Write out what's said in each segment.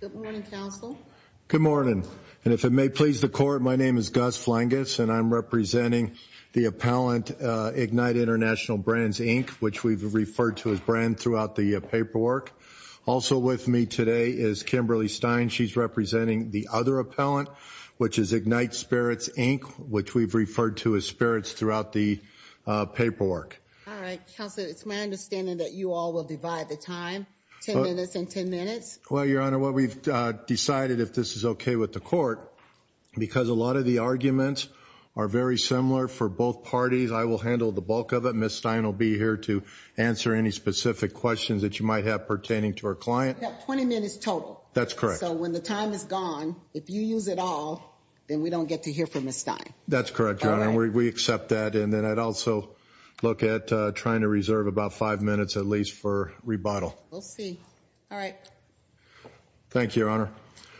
Good morning, counsel. Good morning. And if it may please the court, my name is Gus Flangus and I'm representing the appellant Ignite International Brands, Inc., which we've referred to as brand throughout the paperwork. Also with me today is Kimberly Stein. She's representing the other appellant, which is Ignite Spirits, Inc., which we've referred to as spirits throughout the paperwork. All right, counsel, it's my understanding that you all will divide the time, 10 minutes and 10 minutes. Well, Your Honor, what we've decided, if this is okay with the court, because a lot of the arguments are very similar for both parties, I will handle the bulk of it. Ms. Stein will be here to answer any specific questions that you might have pertaining to our client. We've got 20 minutes total. That's correct. So when the time is gone, if you use it all, then we don't get to hear from Ms. Stein. That's correct, Your Honor. We accept that. And then I'd also look at trying to reserve about five minutes at least for rebuttal. We'll see. All right. Thank you, Your Honor.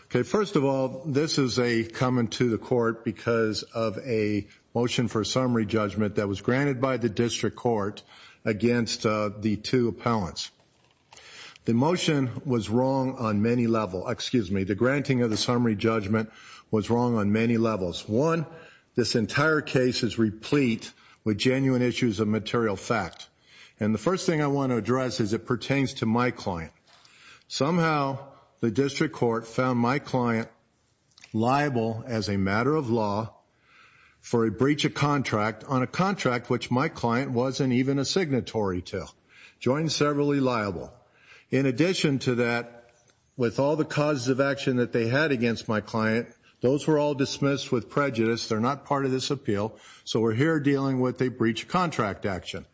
Okay. First of all, this is a comment to the court because of a motion for a summary judgment that was granted by the district court against the two appellants. The motion was wrong on many level. Excuse me. The granting of the summary judgment was wrong on many levels. One, this entire case is replete with genuine issues of material fact. And the first thing I want to address is it pertains to my client. Somehow the district court found my client liable as a matter of law for a breach of contract on a contract which my client wasn't even a signatory to. Joined severally liable. In addition to that, with all the causes of my client, those were all dismissed with prejudice. They're not part of this appeal. So we're here dealing with a breach of contract action.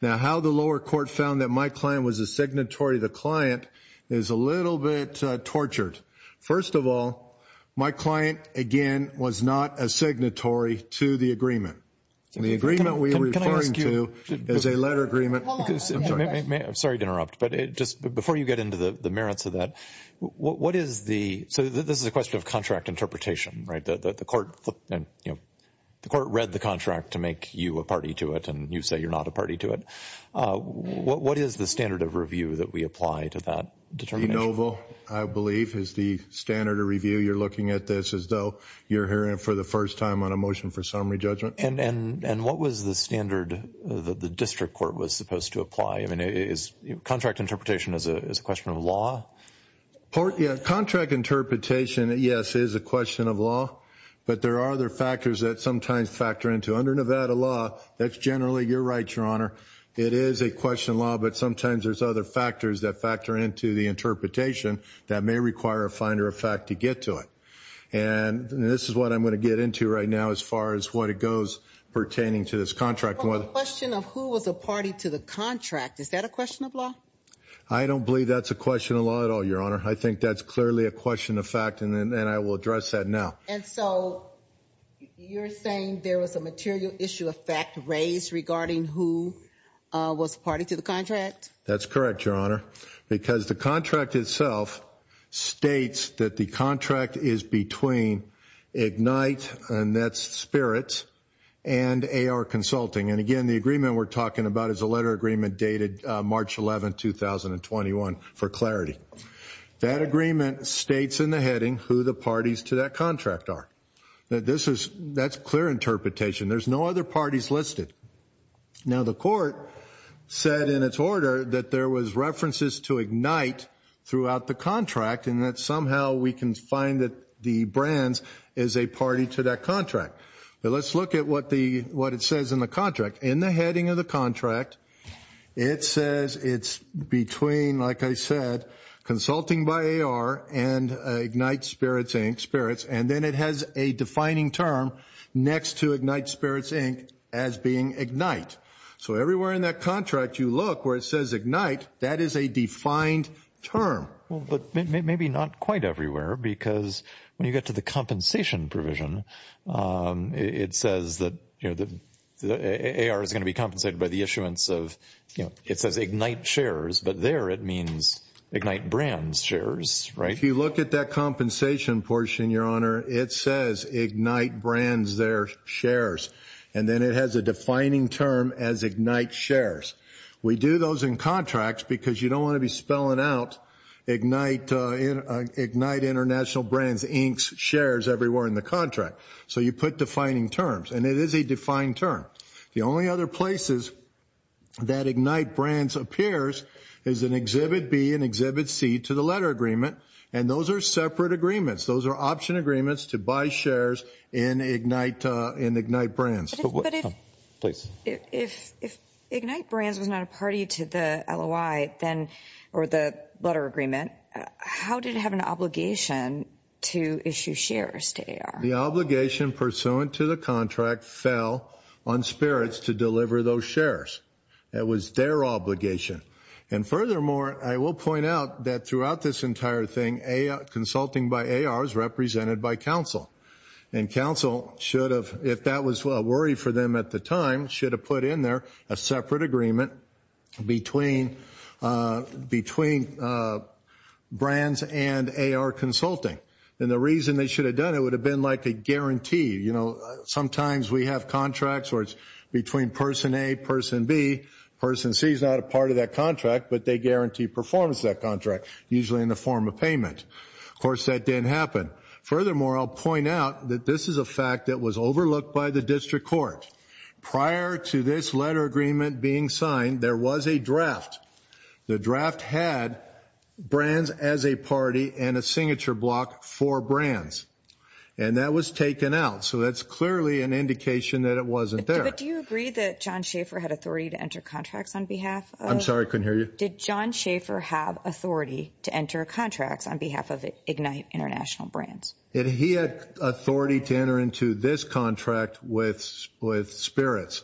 Now, how the lower court found that my client was a signatory to the client is a little bit tortured. First of all, my client, again, was not a signatory to the agreement. And the agreement we are referring to is a letter agreement. I'm sorry to interrupt, but just before you get into the merits of that, what is the, so this is a question of contract interpretation, right? The court read the contract to make you a party to it, and you say you're not a party to it. What is the standard of review that we apply to that determination? De novo, I believe, is the standard of review. You're looking at this as though you're hearing it for the first time on a motion for summary judgment. And what was the standard that the district court was supposed to apply? I mean, is contract interpretation is a question of law? Contract interpretation, yes, is a question of law. But there are other factors that sometimes factor into. Under Nevada law, that's generally, you're right, Your Honor, it is a question of law, but sometimes there's other factors that factor into the interpretation that may require a finder of fact to get to it. And this is what I'm going to get into right now as far as what it goes pertaining to this contract. The question of who was a party to the contract, is that a question of law? I don't believe that's a question of law at all, Your Honor. I think that's clearly a question of fact, and I will address that now. And so, you're saying there was a material issue of fact raised regarding who was a party to the contract? That's correct, Your Honor, because the contract itself states that the contract is between IGNITE, and that's Spirits, and AR Consulting. And again, the agreement we're talking about is a letter agreement dated March 11, 2021, for clarity. That agreement states in the heading who the parties to that contract are. That's clear interpretation. There's no other parties listed. Now, the court said in its order that there was references to IGNITE throughout the contract, and that somehow we can find that the brands is a party to that contract. But let's look at what it says in the contract. In the heading of the contract, it says it's between, like I said, Consulting by AR and IGNITE Spirits, and then it has a defining term next to IGNITE Spirits, Inc. as being IGNITE. So everywhere in that contract you look where it says IGNITE, that is a defined term. But maybe not quite everywhere, because when you get to the compensation provision, it says that AR is going to be compensated by the issuance of, it says IGNITE Shares, but there it means IGNITE Brands Shares, right? If you look at that compensation portion, Your Honor, it says IGNITE Brands, their shares, and then it has a defining term as IGNITE Shares. We do those in contracts because you don't want to be spelling out IGNITE International Brands, Inc.'s shares everywhere in the contract. So you put defining terms, and it is a defined term. The only other places that IGNITE Brands appears is in Exhibit B and Exhibit C to the letter agreement, and those are separate agreements. Those are option agreements to buy shares in IGNITE Brands. But if IGNITE Brands was not a party to the LOI, or the letter agreement, how did it have an obligation to issue shares to AR? The obligation pursuant to the contract fell on spirits to deliver those shares. That was their obligation. And furthermore, I will point out that throughout this entire thing, consulting by AR is represented by counsel, and counsel should have, if that was a worry for them at the time, should have put in there a separate agreement between brands and AR consulting. And the reason they should have done it would have been like a guarantee. Sometimes we have contracts where it's between person A, person B. Person C is not a part of that contract, but they guarantee performance of that contract, usually in the form of payment. Of course, that didn't happen. Furthermore, I'll point out that this is a fact that was overlooked by the District Court. Prior to this letter agreement being signed, there was a draft. The draft had brands as a party and a signature block for brands. And that was taken out. So that's clearly an indication that it wasn't there. But do you agree that John Schaefer had authority to enter contracts on behalf of... I'm sorry, I couldn't hear you. Did John Schaefer have authority to enter contracts on behalf of IGNITE International Brands? He had authority to enter into this contract with spirits.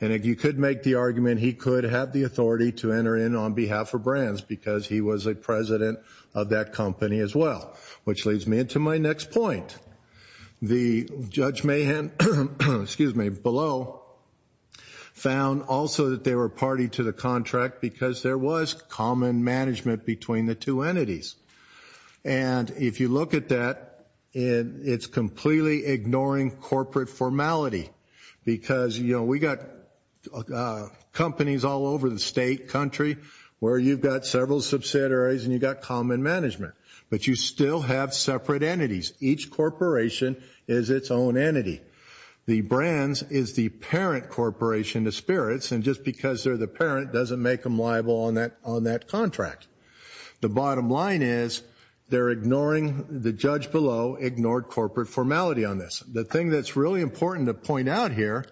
And you could make the argument he could have the authority to enter in on behalf of brands because he was a president of that company as well. Which leads me into my next point. The Judge Mahan, excuse me, below found also that they were party to the contract because there was common management between the two entities. And if you look at that, it's completely ignoring corporate formality. Because we got companies all over the state, country, where you've got several subsidiaries and you've got common management. But you still have separate entities. Each corporation is its own entity. The brands is the parent corporation to spirits and just because they're the parent doesn't make them liable on that contract. The bottom line is they're ignoring, the Judge below ignored corporate formality on this. The thing that's really important to point out here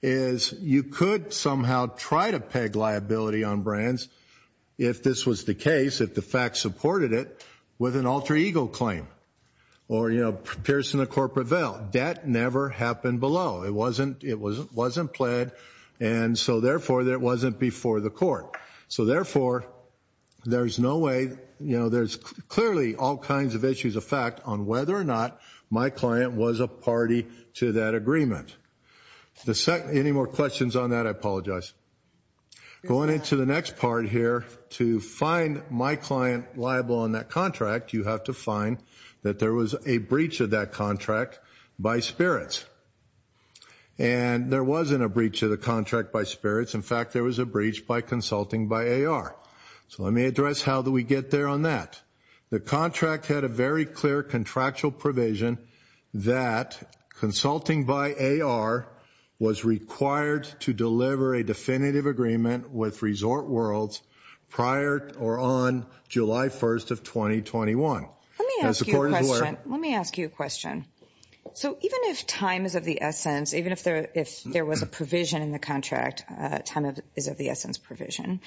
is you could somehow try to peg liability on brands if this was the case, if the facts supported it, with an alter ego claim. Or, you know, piercing the corporate veil. That never happened below. It wasn't, it wasn't played and so therefore it wasn't before the court. So therefore, there's no way, you know, there's clearly all kinds of issues of fact on whether or not my client was a party to that agreement. Any more questions on that? I apologize. Going into the next part here, to find my client liable on that contract, you have to find that there was a breach of that contract by spirits. And there wasn't a breach of the contract by spirits. In fact, there was a contract had a very clear contractual provision that consulting by AR was required to deliver a definitive agreement with Resort Worlds prior or on July 1st of 2021. Let me ask you a question. So even if time is of the essence, even if there, if there was a provision in the contract, time is of the essence provision.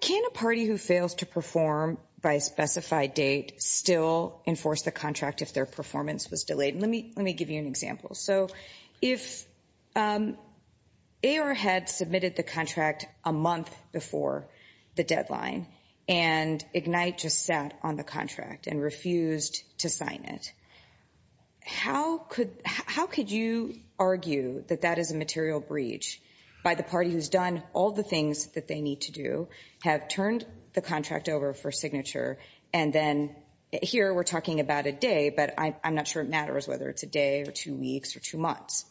Can a party who fails to perform by specified date still enforce the contract if their performance was delayed? Let me, let me give you an example. So if AR had submitted the contract a month before the deadline and Ignite just sat on the contract and refused to sign it, how could, how could you argue that that is a material breach by the party who's done all the things that they need to do, have turned the contract over for signature? And then here we're talking about a day, but I'm not sure it matters whether it's a day or two weeks or two months.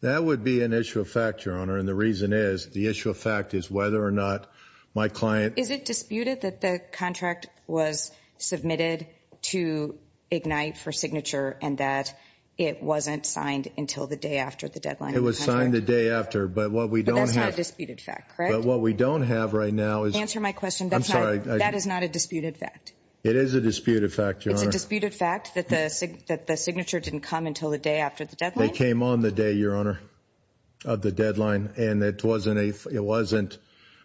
That would be an issue of fact, Your Honor. And the reason is the issue of fact is whether or not my client... Is it disputed that the contract was submitted to Ignite for signature and that it wasn't signed until the day after the deadline? It was signed the day after, but what we don't have... But that's not a disputed fact, correct? But what we don't have right now is... Answer my question. I'm sorry. That is not a disputed fact. It is a disputed fact, Your Honor. It's a disputed fact that the signature didn't come until the day after the deadline? It came on the day, Your Honor, of the deadline. And it wasn't a, it wasn't,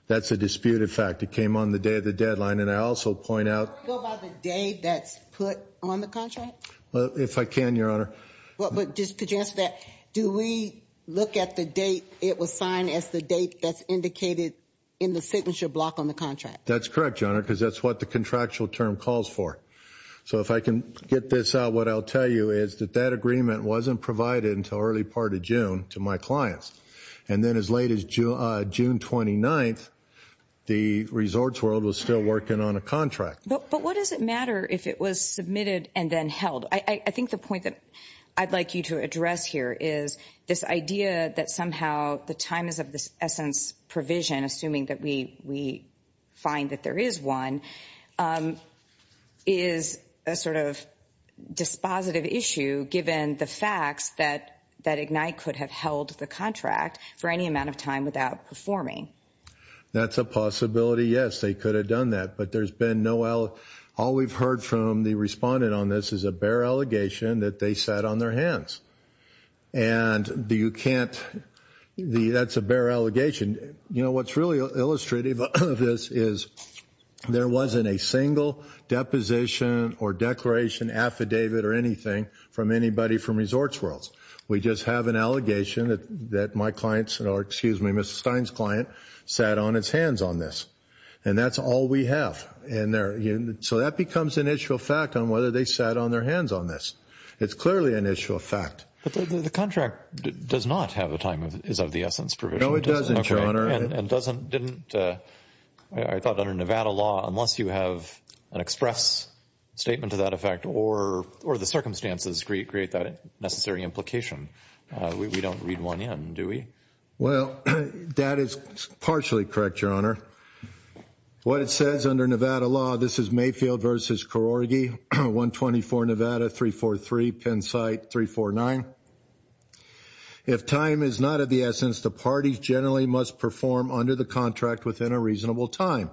that's a disputed fact. It came on the day of the deadline. And I also point out... Can we go by the date that's put on the contract? Well, if I can, Your Honor. Well, but just to answer that, do we look at the date it was signed as the date that's indicated in the signature block on the contract? That's correct, Your Honor, because that's what the contractual term calls for. So if I can get this out, what I'll tell you is that that agreement wasn't provided until early part of June to my clients. And then as late as June 29th, the Resorts World was still working on a contract. But what does it matter if it was submitted and then held? I think the point that I'd like you to address here is this idea that somehow the time is of the essence provision, assuming that we find that there is one, is a sort of dispositive issue given the facts that Ignite could have held the contract for any amount of time without performing. That's a possibility, yes. They have heard from the respondent on this is a bare allegation that they sat on their hands. And you can't, that's a bare allegation. You know, what's really illustrative of this is there wasn't a single deposition or declaration, affidavit or anything from anybody from Resorts World. We just have an allegation that my client's, or excuse me, Mr. Stein's client sat on its hands on this. And that's all we have. And so that becomes an issue of fact on whether they sat on their hands on this. It's clearly an issue of fact. But the contract does not have a time is of the essence provision. No, it doesn't, Your Honor. And doesn't, didn't, I thought under Nevada law, unless you have an express statement to that effect or the circumstances create that necessary implication, we don't read one in, do we? Well, that is partially correct, Your Honor. What it says under Nevada law, this is Mayfield versus Karorgi, 124 Nevada, 343 Pennsite, 349. If time is not of the essence, the parties generally must perform under the contract within a reasonable time,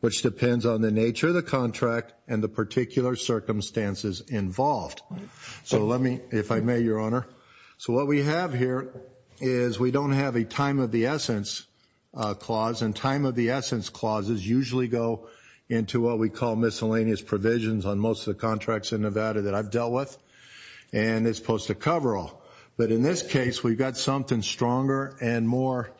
which depends on the nature of the contract and the particular circumstances involved. So let me, if I may, Your Honor. So what we have here is we don't have a time of the essence clause. And time of the essence clauses usually go into what we call miscellaneous provisions on most of the contracts in Nevada that I've dealt with. And it's supposed to cover all. But in this case, we've got something stronger and more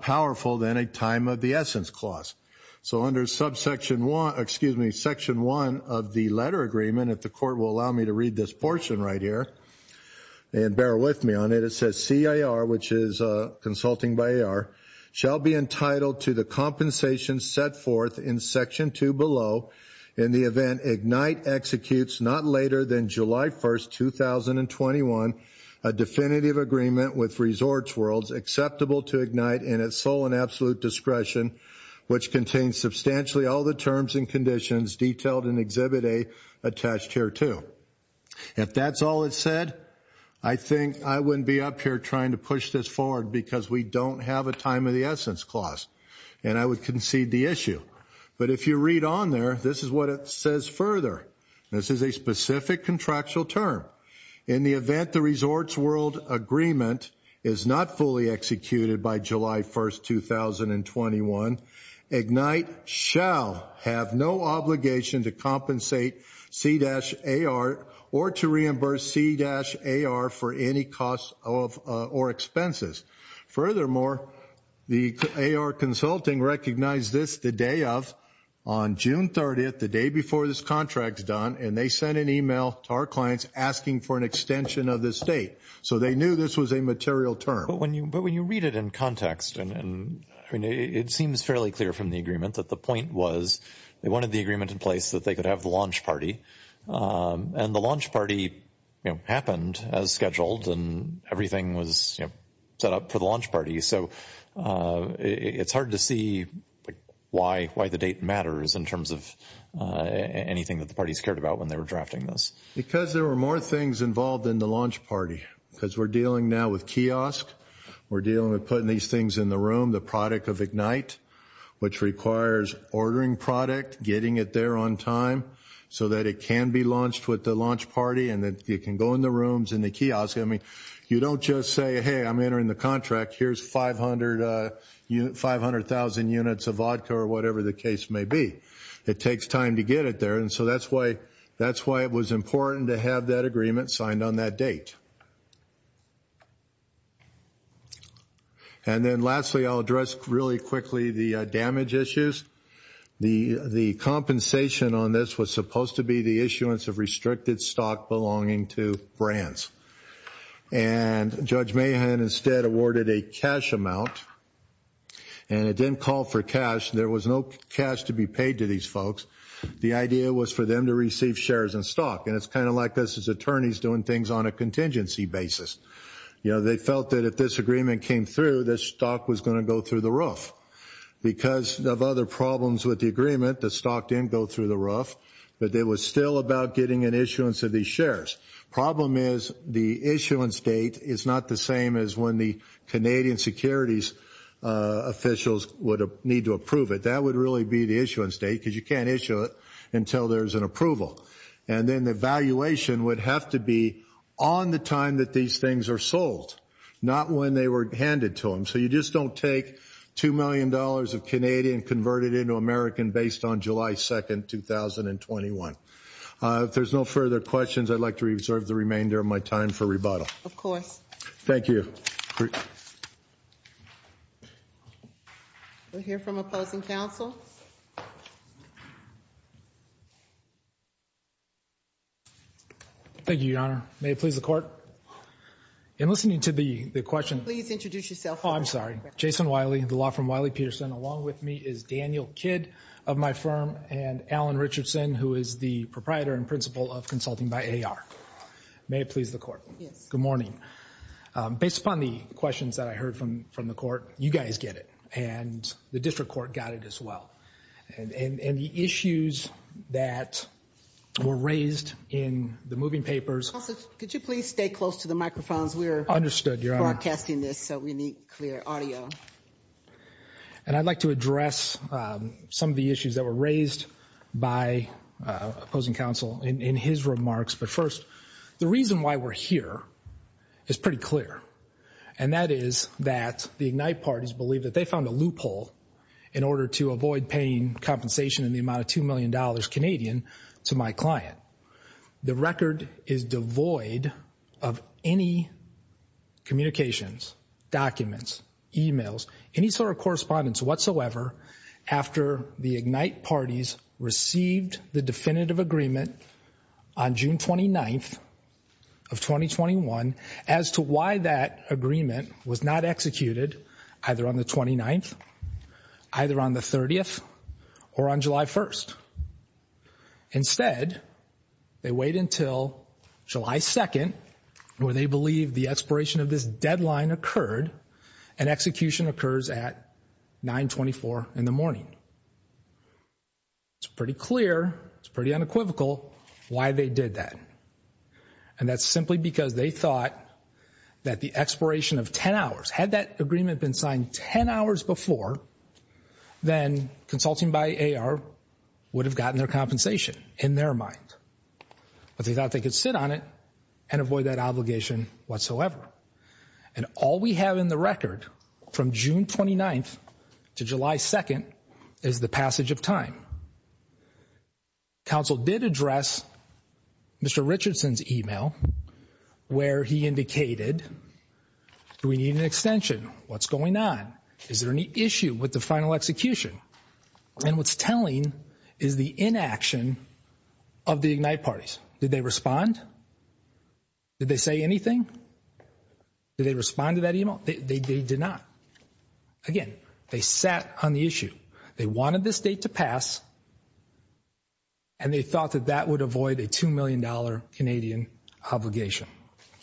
powerful than a time of the essence clause. So under subsection one, excuse me, section one of the letter agreement, if the portion right here, and bear with me on it, it says CIR, which is consulting by AR, shall be entitled to the compensation set forth in section two below in the event IGNITE executes not later than July 1st, 2021, a definitive agreement with Resorts Worlds acceptable to IGNITE in its sole and absolute discretion, which contains substantially all the terms and conditions detailed in Exhibit A attached here too. If that's all it said, I think I wouldn't be up here trying to push this forward because we don't have a time of the essence clause. And I would concede the issue. But if you read on there, this is what it says further. This is a specific contractual term. In the event the Resorts World agreement is not fully executed by July 1st, 2021, IGNITE shall have no obligation to compensate C-AR or to reimburse C-AR for any costs or expenses. Furthermore, the AR consulting recognized this the day of, on June 30th, the day before this contract's done, and they sent an email to our clients asking for an extension of this date. So they knew this was a material term. But when you read it in context, and it seems fairly clear from the agreement that the point was they wanted the agreement in place that they could have the launch party. And the launch party happened as scheduled and everything was set up for the launch party. So it's hard to see why the date matters in terms of anything that the parties cared about when they were drafting this. Because there were more things involved in the launch party. Because we're dealing now with kiosk. We're dealing with putting these things in the room, the product of IGNITE, which requires ordering product, getting it there on time, so that it can be launched with the launch party and that it can go in the rooms in the kiosk. I mean, you don't just say, hey, I'm entering the contract. Here's 500,000 units of vodka or whatever the case may be. It takes time to get it there. And so that's why it was important to have that agreement signed on that date. And then lastly, I'll address really quickly the damage issues. The compensation on this was supposed to be the issuance of restricted stock belonging to brands. And Judge Mahan instead awarded a cash amount. And it didn't call for cash. There was no cash to be paid to these folks. The idea was for them to receive shares in stock. And it's kind of like this is attorneys doing things on a contingency basis. You know, they felt that if this agreement came through, this stock was going to go through the roof. Because of other problems with the agreement, the stock didn't go through the roof. But it was still about getting an issuance of these shares. Problem is, the issuance date is not the same as when the Canadian securities officials would need to approve it. That would really be the issuance date, because you can't issue it until there's an approval. And then the valuation would have to be on the time that these things are sold, not when they were handed to them. So you just don't take $2 million of Canadian, convert it into American based on July 2, 2021. If there's no further questions, I'd like to reserve the remainder of my time for rebuttal. Of course. Thank you. We'll hear from opposing counsel. Thank you, Your Honor. May it please the court. In listening to the question, please introduce yourself. Oh, I'm sorry. Jason Wiley, the law firm Wiley Peterson. Along with me is Daniel Kidd of my firm and Alan Richardson, who is the proprietor and principal of Consulting by AR. May it please the court. Yes. Good morning. Based upon the questions that I heard from the court, you guys get it. And the district court got it as well. And the issues that were raised in the moving papers... Counsel, could you please stay close to the microphones? We're... Understood, Your Honor.... broadcasting this, so we need clear audio. And I'd like to address some of the issues that were raised by opposing counsel in his remarks. But first, the reason why we're here is pretty clear. And that is that the IGNITE parties believe that they found a loophole in order to avoid paying compensation in the amount of $2 million Canadian to my client. The record is devoid of any communications, documents, emails, any sort of correspondence whatsoever after the IGNITE parties received the definitive agreement on June 29th of 2021 as to why that agreement was not executed either on the 29th, either on the 30th, or on July 1st. Instead, they wait until July 2nd, where they believe the expiration of this deadline occurred, and execution occurs at 924 in the morning. It's pretty clear, it's pretty unequivocal why they did that. And that's simply because they thought that the expiration of 10 hours, had that agreement been signed 10 hours before, then consulting by AR would have gotten their compensation in their mind. But they thought they could sit on it and avoid that obligation whatsoever. And all we have in the record from June 29th to July 2nd is the passage of time. Counsel did address Mr. Richardson's email, where he indicated, do we need an extension? What's going on? Is there any issue with the bond? Did they say anything? Did they respond to that email? They did not. Again, they sat on the issue. They wanted this date to pass, and they thought that that would avoid a $2 million Canadian obligation.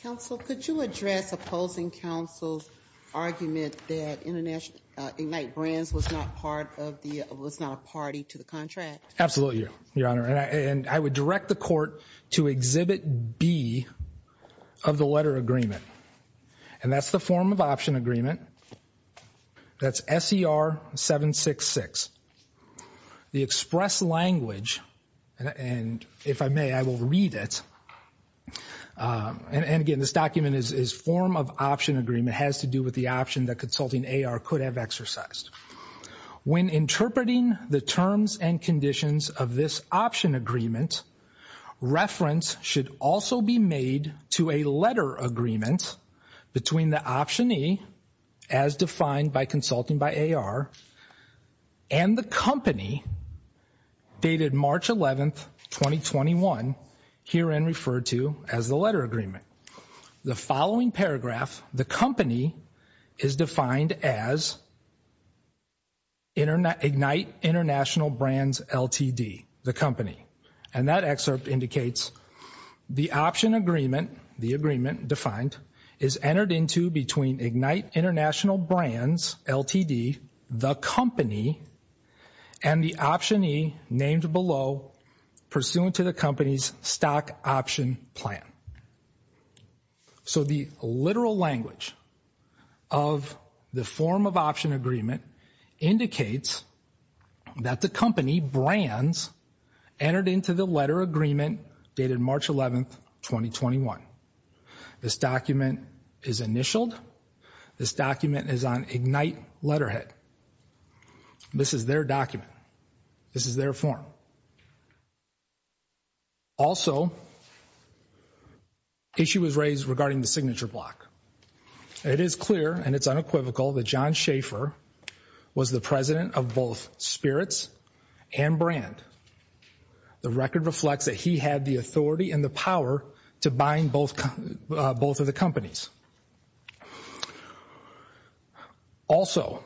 Counsel, could you address opposing counsel's argument that IGNITE Brands was not a party to Absolutely, Your Honor. And I would direct the court to Exhibit B of the letter agreement. And that's the form of option agreement. That's SER 766. The express language, and if I may, I will read it. And again, this document is form of option agreement, has to do with the option consulting AR could have exercised. When interpreting the terms and conditions of this option agreement, reference should also be made to a letter agreement between the optionee, as defined by consulting by AR, and the company, dated March 11th, 2021, herein referred to as the as IGNITE International Brands LTD, the company. And that excerpt indicates the option agreement, the agreement defined, is entered into between IGNITE International Brands LTD, the company, and the optionee named below, pursuant to the company's stock option plan. So the literal language of the form of option agreement indicates that the company, Brands, entered into the letter agreement dated March 11th, 2021. This document is initialed. This document is on IGNITE letterhead. This is their document. This is their form. Also, issue was raised regarding the signature block. It is clear, and it's unequivocal, that John Schaefer was the president of both Spirits and Brand. The record reflects that he had the authority and the power to bind both of the companies. Also,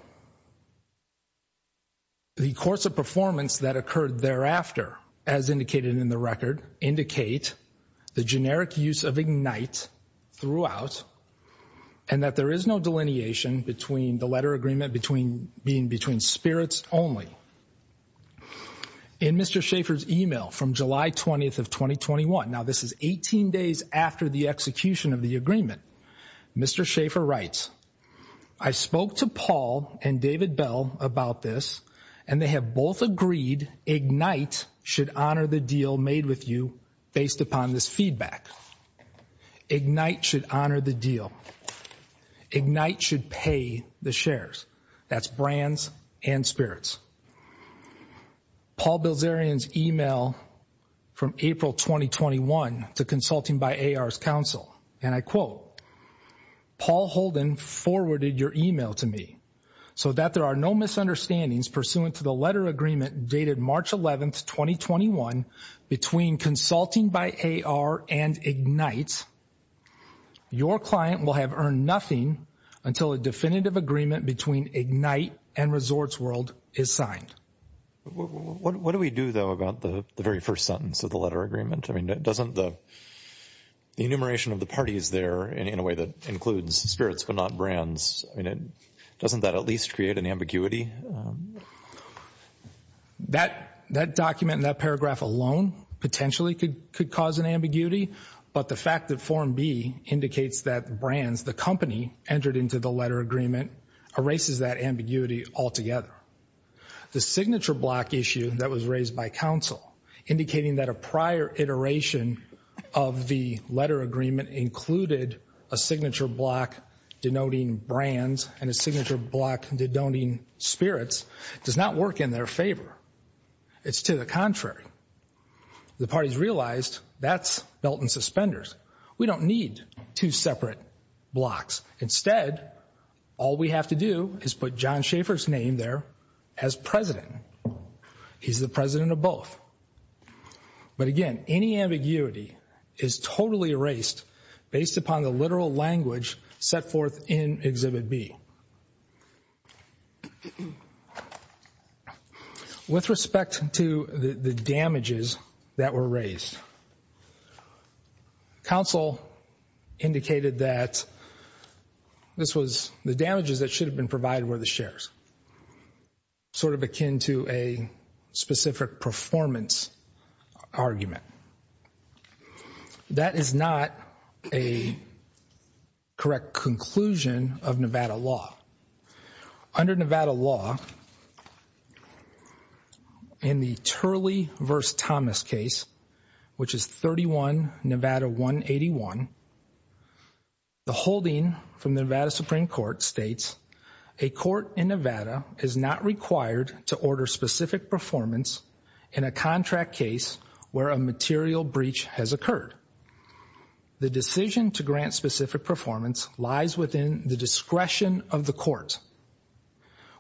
the course of performance that occurred thereafter, as indicated in the record, indicate the generic use of IGNITE throughout, and that there is no delineation between the letter agreement being between Spirits only. In Mr. Schaefer's email from July 20th of 2021, now this is 18 days after the execution of the agreement, Mr. Schaefer writes, I spoke to Paul and David Bell about this, and they have both agreed IGNITE should honor the deal made with you based upon this feedback. IGNITE should honor the deal. IGNITE should pay the shares. That's Brands and Spirits. Paul Bilzerian's email from April 2021 to consulting by AR's counsel, and I quote, Paul Holden forwarded your email to me, so that there are no misunderstandings pursuant to the letter agreement dated March 11th, 2021, between consulting by AR and IGNITE, your client will have earned nothing until a definitive agreement between IGNITE and Resorts World is signed. What do we do, though, about the very first sentence of the letter agreement? I mean, in a way that includes Spirits, but not Brands. I mean, doesn't that at least create an ambiguity? That document and that paragraph alone potentially could cause an ambiguity, but the fact that form B indicates that Brands, the company entered into the letter agreement, erases that ambiguity altogether. The signature block issue that was raised by counsel, indicating that a prior iteration of the letter agreement included a signature block denoting Brands and a signature block denoting Spirits, does not work in their favor. It's to the contrary. The parties realized that's Milton Suspenders. We don't need two separate blocks. Instead, all we have to do is put John Schaefer's name there as president. He's the president of both. But again, any ambiguity is totally erased based upon the literal language set forth in Exhibit B. With respect to the damages that were raised, counsel indicated that the damages that should have been provided were the shares, sort of akin to a specific performance argument. That is not a correct conclusion of Nevada law. Under Nevada law, in the Turley v. Thomas case, which is 31 Nevada 181, the holding from the Nevada Supreme Court states, a court in Nevada is not required to order specific performance in a contract case where a material breach has occurred. The decision to grant specific performance lies within the discretion of the court,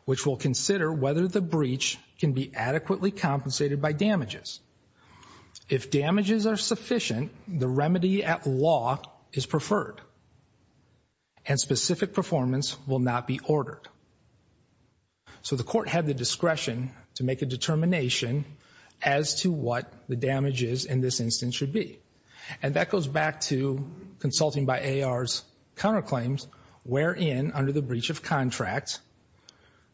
which will consider whether the breach can be adequately compensated by damages. If damages are sufficient, the remedy at law is preferred and specific performance will not be ordered. So the court had the discretion to make a determination as to what the damages in this instance should be. And that goes back to consulting by A.R.'s counterclaims, wherein under the breach of contract,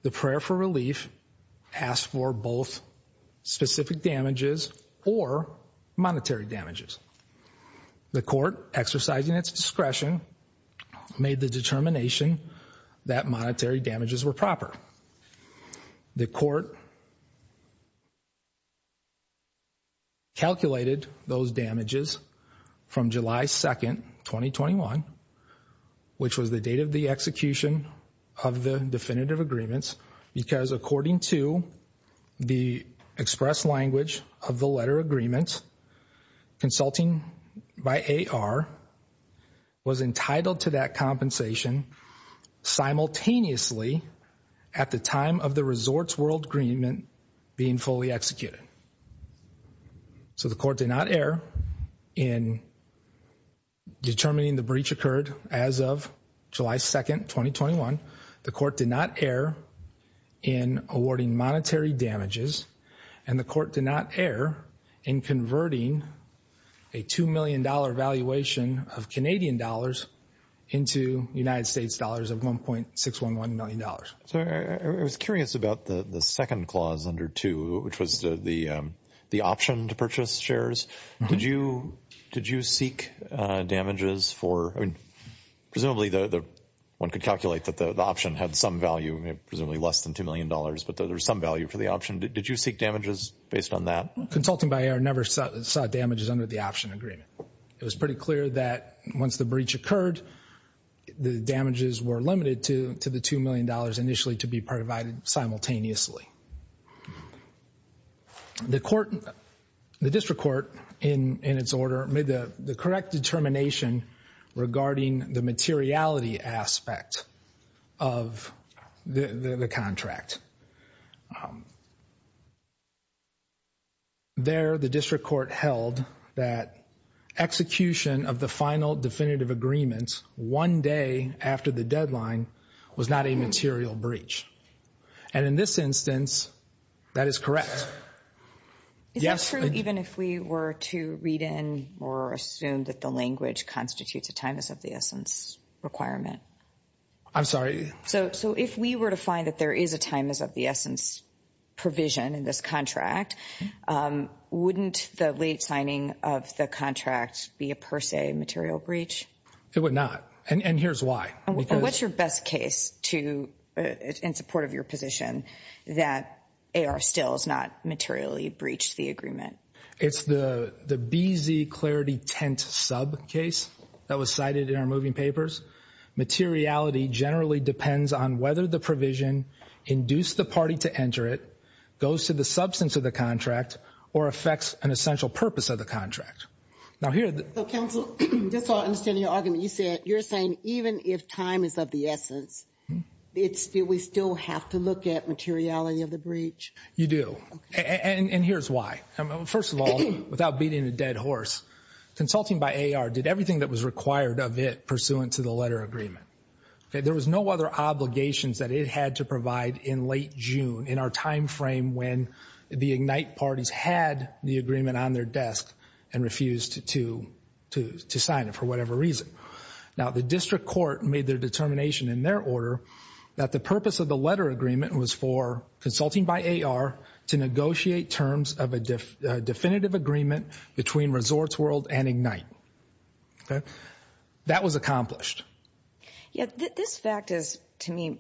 the prayer for relief asked for both specific damages or monetary damages. The court, exercising its discretion, made the determination that monetary damages were proper. The court calculated those damages from July 2, 2021, which was the date of the execution of the definitive agreements, because according to the express language of the letter agreement, consulting by A.R. was entitled to that compensation simultaneously at the time of the resort's world agreement being fully executed. So the court did not err in determining the breach occurred as of July 2, 2021. The court did not err in awarding monetary damages, and the court did not err in converting a $2 million valuation of Canadian dollars into United States dollars of $1.611 million. So I was curious about the second clause under 2, which was the option to purchase shares. Did you seek damages for, presumably one could calculate that the option had some value, presumably less than $2 million, but there's some value for the option. Did you seek damages based on that? Consulting by A.R. never saw damages under the option agreement. It was pretty clear that once the breach occurred, the damages were limited to the $2 million initially to be provided simultaneously. The district court, in its order, made the correct determination regarding the materiality aspect of the contract. There, the district court held that execution of the final definitive agreement one day after the deadline was not a material breach. And in this instance, that is correct. Is that true even if we were to read in or assume that the language constitutes a time as of the requirement? I'm sorry. So if we were to find that there is a time as of the essence provision in this contract, wouldn't the late signing of the contract be a per se material breach? It would not. And here's why. What's your best case to, in support of your position, that A.R. still has not materially breached the agreement? It's the BZ Clarity Tent sub case that was cited in our moving papers. Materiality generally depends on whether the provision induced the party to enter it, goes to the substance of the contract, or affects an essential purpose of the contract. Now here... So counsel, just so I understand your argument, you said, you're saying even if time is of the essence, do we still have to look at materiality of the breach? You do. And here's why. First of all, without beating a dead horse, consulting by A.R. did everything that was required of it pursuant to the letter agreement. There was no other obligations that it had to provide in late June, in our time frame when the IGNITE parties had the agreement on their desk and refused to sign it for whatever reason. Now the District Court made their determination in their order that the purpose of the letter agreement was for consulting by A.R. to negotiate terms of a definitive agreement between Resorts World and IGNITE. Okay? That was accomplished. Yeah, this fact is to me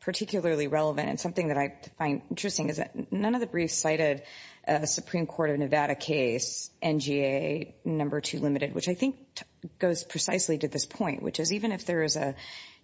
particularly relevant and something that I find interesting is that none of the briefs cited a Supreme Court of Nevada case, NGA number two limited, which I think goes precisely to this point, which is even if there is a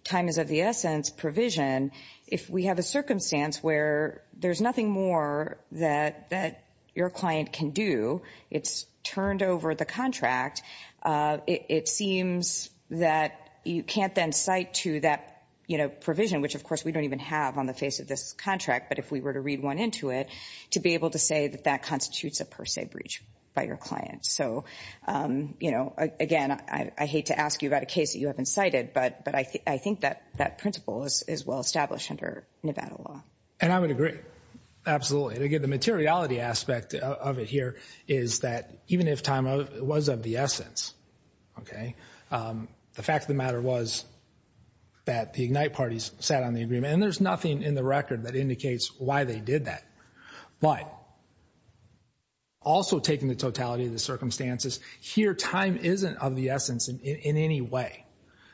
time is of the essence provision, if we have a circumstance where there's nothing more that your client can do, it's turned over the contract, it seems that you can't then cite to that, you know, provision, which of course we don't even have on the face of this contract, but if we were to read one into it, to be able to say that that constitutes a per se breach by your client. So, you know, again, I hate to ask you about a case that you haven't cited, but I think that that principle is well established under Nevada law. And I would agree. Absolutely. And again, the materiality aspect of it here is that even if time was of the essence, okay, the fact of the matter was that the IGNITE parties sat on the agreement, and there's nothing in the record that indicates why they did that. But also taking the totality of the circumstances, here time isn't of the essence in any way.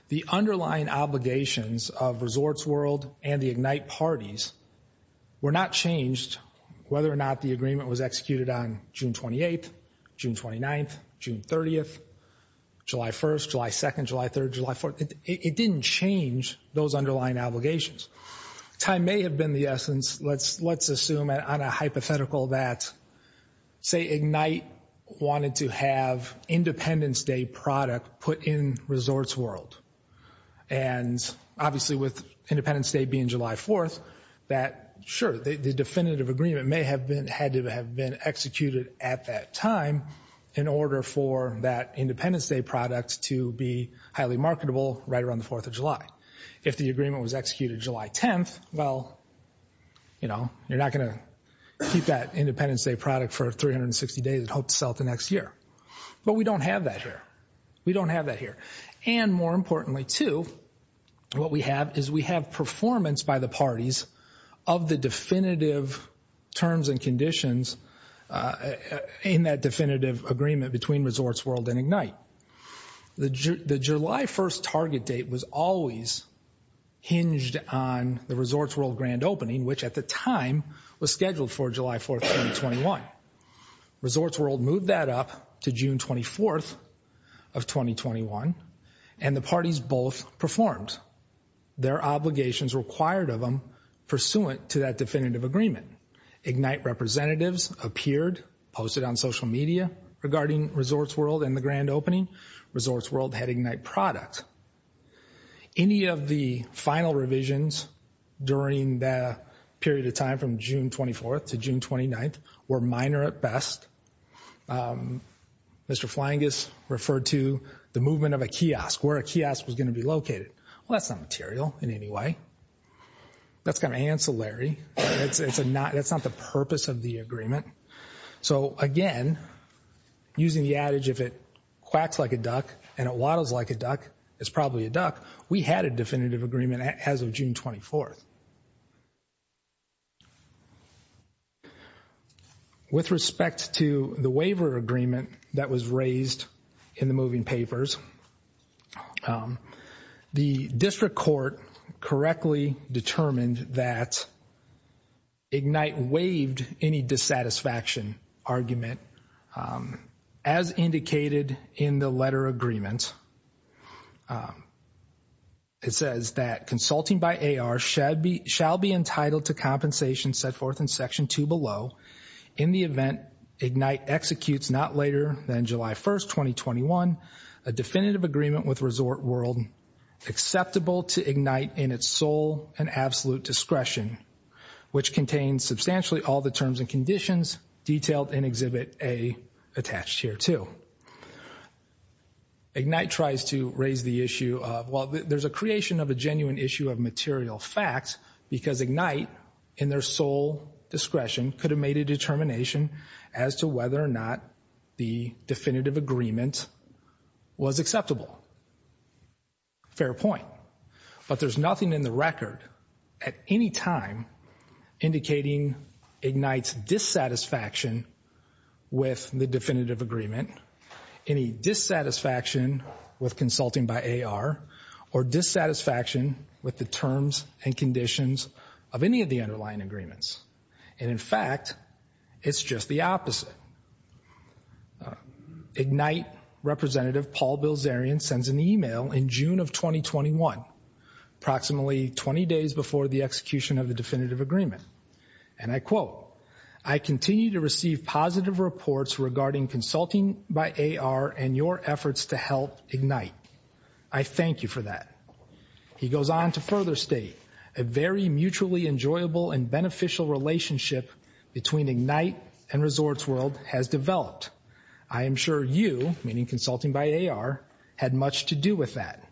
The underlying obligations of Resorts World and the IGNITE parties were not changed whether or not the agreement was executed on June 28th, June 29th, June 30th, July 1st, July 2nd, July 3rd, July 4th. It didn't change those underlying obligations. Time may have been the essence. Let's assume on a hypothetical that, say IGNITE wanted to have Independence Day product put in Resorts World. And obviously with Independence Day being July 4th, sure, the definitive agreement had to have been executed at that time in order for that Independence Day product to be highly marketable right around the 4th of July. If the agreement was executed July 10th, well, you're not going to keep that Independence Day product for 360 days and hope to sell it the next year. But we don't have that here. We don't have that here. And more importantly too, what we have is we have performance by the parties of the definitive terms and conditions in that definitive agreement between Resorts World and IGNITE. The July 1st target date was always hinged on the Resorts World grand opening, which at the time was scheduled for July 4th, 2021. Resorts World moved that up to June 24th of 2021 and the parties both performed their obligations required of them pursuant to that definitive agreement. IGNITE representatives appeared, posted on social media regarding Resorts World and the grand opening. Resorts World had IGNITE product. Any of the final revisions during the period of time from June 24th to June 29th were minor at best. Mr. Flyingus referred to the movement of a kiosk, where a kiosk was going to be located. Well, that's not material in any way. That's kind of ancillary. That's not the purpose of the agreement. So again, using the adage, if it quacks like a duck and it waddles like a duck, it's probably a duck. We had a definitive agreement as of June 24th. With respect to the waiver agreement that was raised in the moving papers, the district court correctly determined that IGNITE waived any dissatisfaction argument as indicated in the letter agreement. It says that consulting by AR shall be entitled to compensation set forth in section two below in the event IGNITE executes not later than July 1st, 2021, a definitive agreement with Resort World acceptable to IGNITE in its sole and absolute discretion, which contains substantially all terms and conditions detailed in Exhibit A attached here too. IGNITE tries to raise the issue of, well, there's a creation of a genuine issue of material facts because IGNITE in their sole discretion could have made a determination as to whether or not the definitive agreement was acceptable. Fair point. But there's nothing in the record at any time indicating IGNITE's dissatisfaction with the definitive agreement, any dissatisfaction with consulting by AR, or dissatisfaction with the terms and conditions of any of the underlying agreements. And in fact, it's just the opposite. IGNITE representative Paul Bilzerian sends an email in June of 2021, approximately 20 days before the execution of the definitive agreement. And I quote, I continue to receive positive reports regarding consulting by AR and your efforts to help IGNITE. I thank you for that. He goes on to further state a very mutually enjoyable and beneficial relationship between IGNITE and ResortsWorld has developed. I am sure you, meaning consulting by AR, had much to do with that.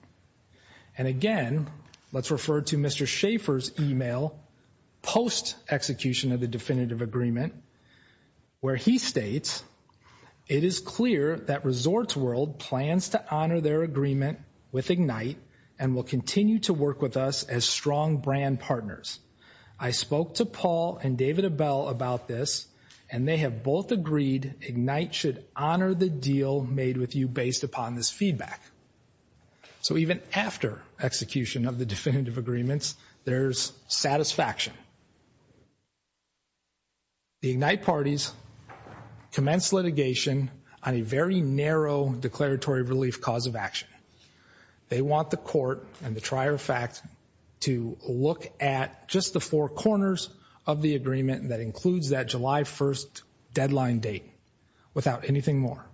And again, let's refer to Mr. Schaefer's email post-execution of the definitive agreement where he states, it is clear that ResortsWorld plans to honor their agreement with IGNITE and will continue to work with us as strong brand partners. I spoke to Paul and David Abell about this, and they have both agreed IGNITE should honor the deal made with you based upon this feedback. So even after execution of the definitive agreements, there's satisfaction. The IGNITE parties commence litigation on a very narrow declaratory relief clause of action. They want the court and the trier fact to look at just the four corners of the agreement that includes that July 1st deadline date without anything more.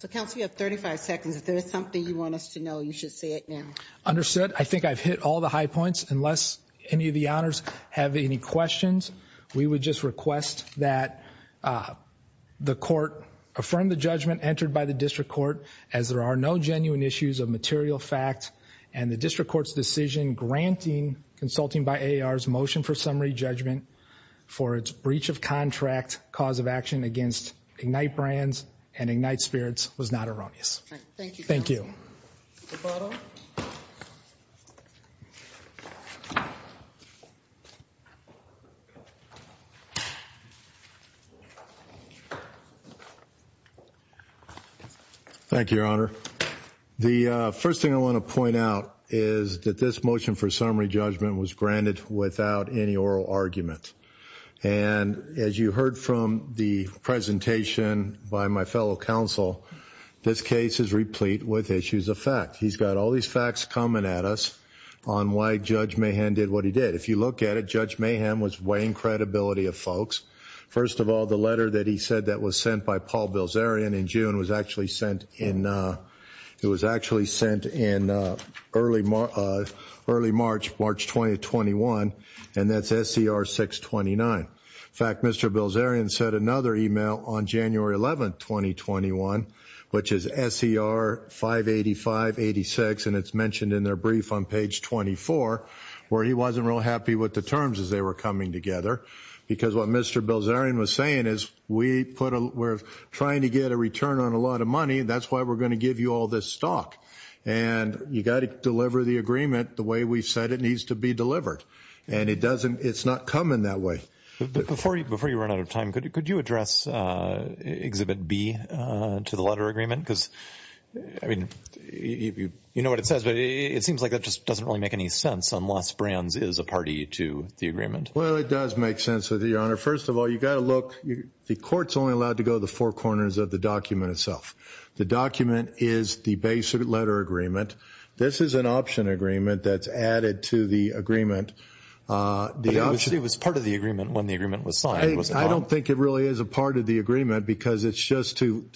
So counsel, you have 35 seconds. If there's something you want us to know, you should say it now. Understood. I think I've hit all the high points. Unless any of the honors have any questions, we would just request that the court affirm the judgment entered by the district court, as there are no genuine issues of material fact, and the district court's decision granting Consulting by AAR's motion for summary judgment for its breach of contract cause of action against IGNITE brands and IGNITE spirits was not erroneous. Thank you. Thank you, Your Honor. The first thing I want to point out is that this motion for summary judgment was granted without any oral argument. And as you heard from the presentation by my fellow counsel, this case is replete with issues of fact. He's got all these facts coming at us on why Judge Mahan did what he did. If you look at it, Judge Mahan was weighing credibility of folks. First of all, the letter that he said that was sent by Paul Bilzerian in June was actually sent in early March, March 2021. And that's SCR 629. In fact, Mr. Bilzerian said another email on January 11, 2021, which is SCR 585-86. And it's mentioned in their brief on page 24, where he wasn't real happy with the terms as they were coming together. Because what Mr. Bilzerian was saying is we're trying to get a return on a lot of money. That's why we're going to give you all this stock. And you got to deliver the agreement the way we said it needs to be and it's not coming that way. Before you run out of time, could you address Exhibit B to the letter agreement? Because I mean, you know what it says, but it seems like that just doesn't really make any sense unless Brands is a party to the agreement. Well, it does make sense of the honor. First of all, you got to look, the court's only allowed to go to the four corners of the document itself. The document is the basic letter agreement. This is an option agreement that's added to the agreement. It was part of the agreement when the agreement was signed. I don't think it really is a part of the agreement because it's just to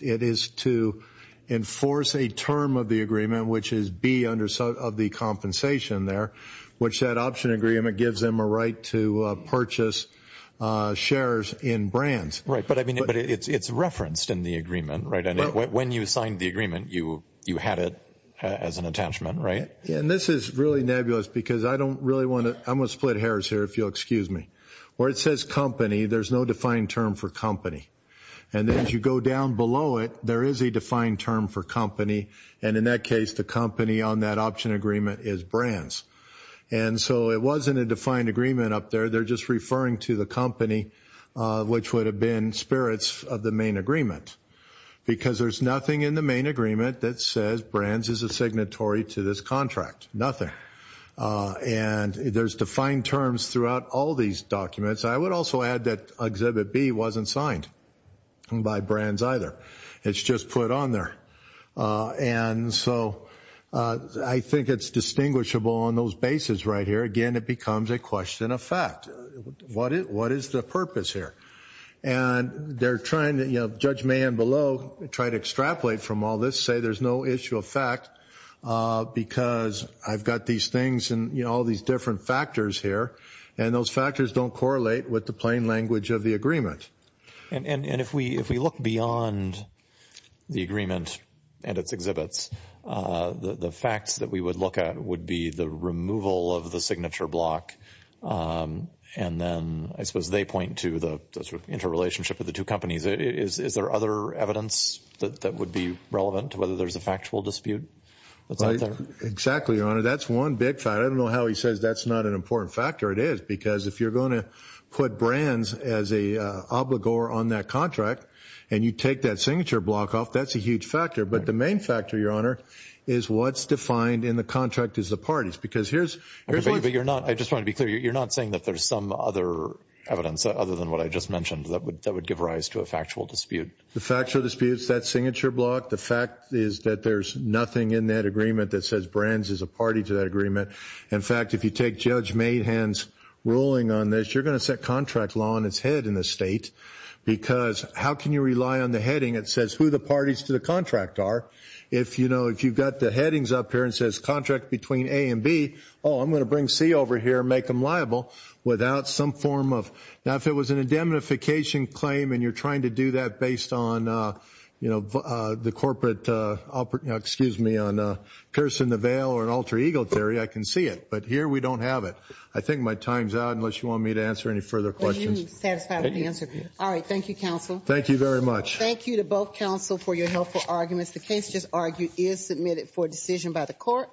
enforce a term of the agreement, which is B of the compensation there, which that option agreement gives them a right to purchase shares in Brands. Right. But I mean, it's referenced in the agreement, right? And because I don't really want to, I'm going to split hairs here, if you'll excuse me, where it says company, there's no defined term for company. And then as you go down below it, there is a defined term for company. And in that case, the company on that option agreement is Brands. And so it wasn't a defined agreement up there. They're just referring to the company, which would have been spirits of the main agreement, because there's nothing in the main agreement that says Brands is a signatory to this contract. Nothing. And there's defined terms throughout all these documents. I would also add that Exhibit B wasn't signed by Brands either. It's just put on there. And so I think it's distinguishable on those bases right here. Again, it becomes a question of fact. What is the purpose here? And they're trying to, you know, Judge May and below try to extrapolate from all this, say there's no issue of fact because I've got these things and, you know, all these different factors here. And those factors don't correlate with the plain language of the agreement. And if we look beyond the agreement and its exhibits, the facts that we would look at would be the removal of the signature block. And then I suppose they point to the sort of relationship with the two companies. Is there other evidence that would be relevant to whether there's a factual dispute? Exactly, Your Honor. That's one big factor. I don't know how he says that's not an important factor. It is because if you're going to put Brands as a obligor on that contract and you take that signature block off, that's a huge factor. But the main factor, Your Honor, is what's defined in the contract is the parties. Because here's... But you're not... I just want to be clear. You're not saying that there's some other evidence other than what I just mentioned that would give rise to a factual dispute. The factual dispute is that signature block. The fact is that there's nothing in that agreement that says Brands is a party to that agreement. In fact, if you take Judge Mahan's ruling on this, you're going to set contract law on its head in the state because how can you rely on the heading that says who the parties to the contract are? If, you know, if you've got the headings up here and says contract between A and B, oh, I'm going to bring C over here and make him liable without some form of... Now, if it was an indemnification claim and you're trying to do that based on, you know, the corporate, excuse me, on piercing the veil or an alter ego theory, I can see it. But here, we don't have it. I think my time's out unless you want me to answer any further questions. Are you satisfied with the answer? All right. Thank you, counsel. Thank you very much. Thank you to both counsel for your helpful arguments. The case just argued is submitted for decision by the court.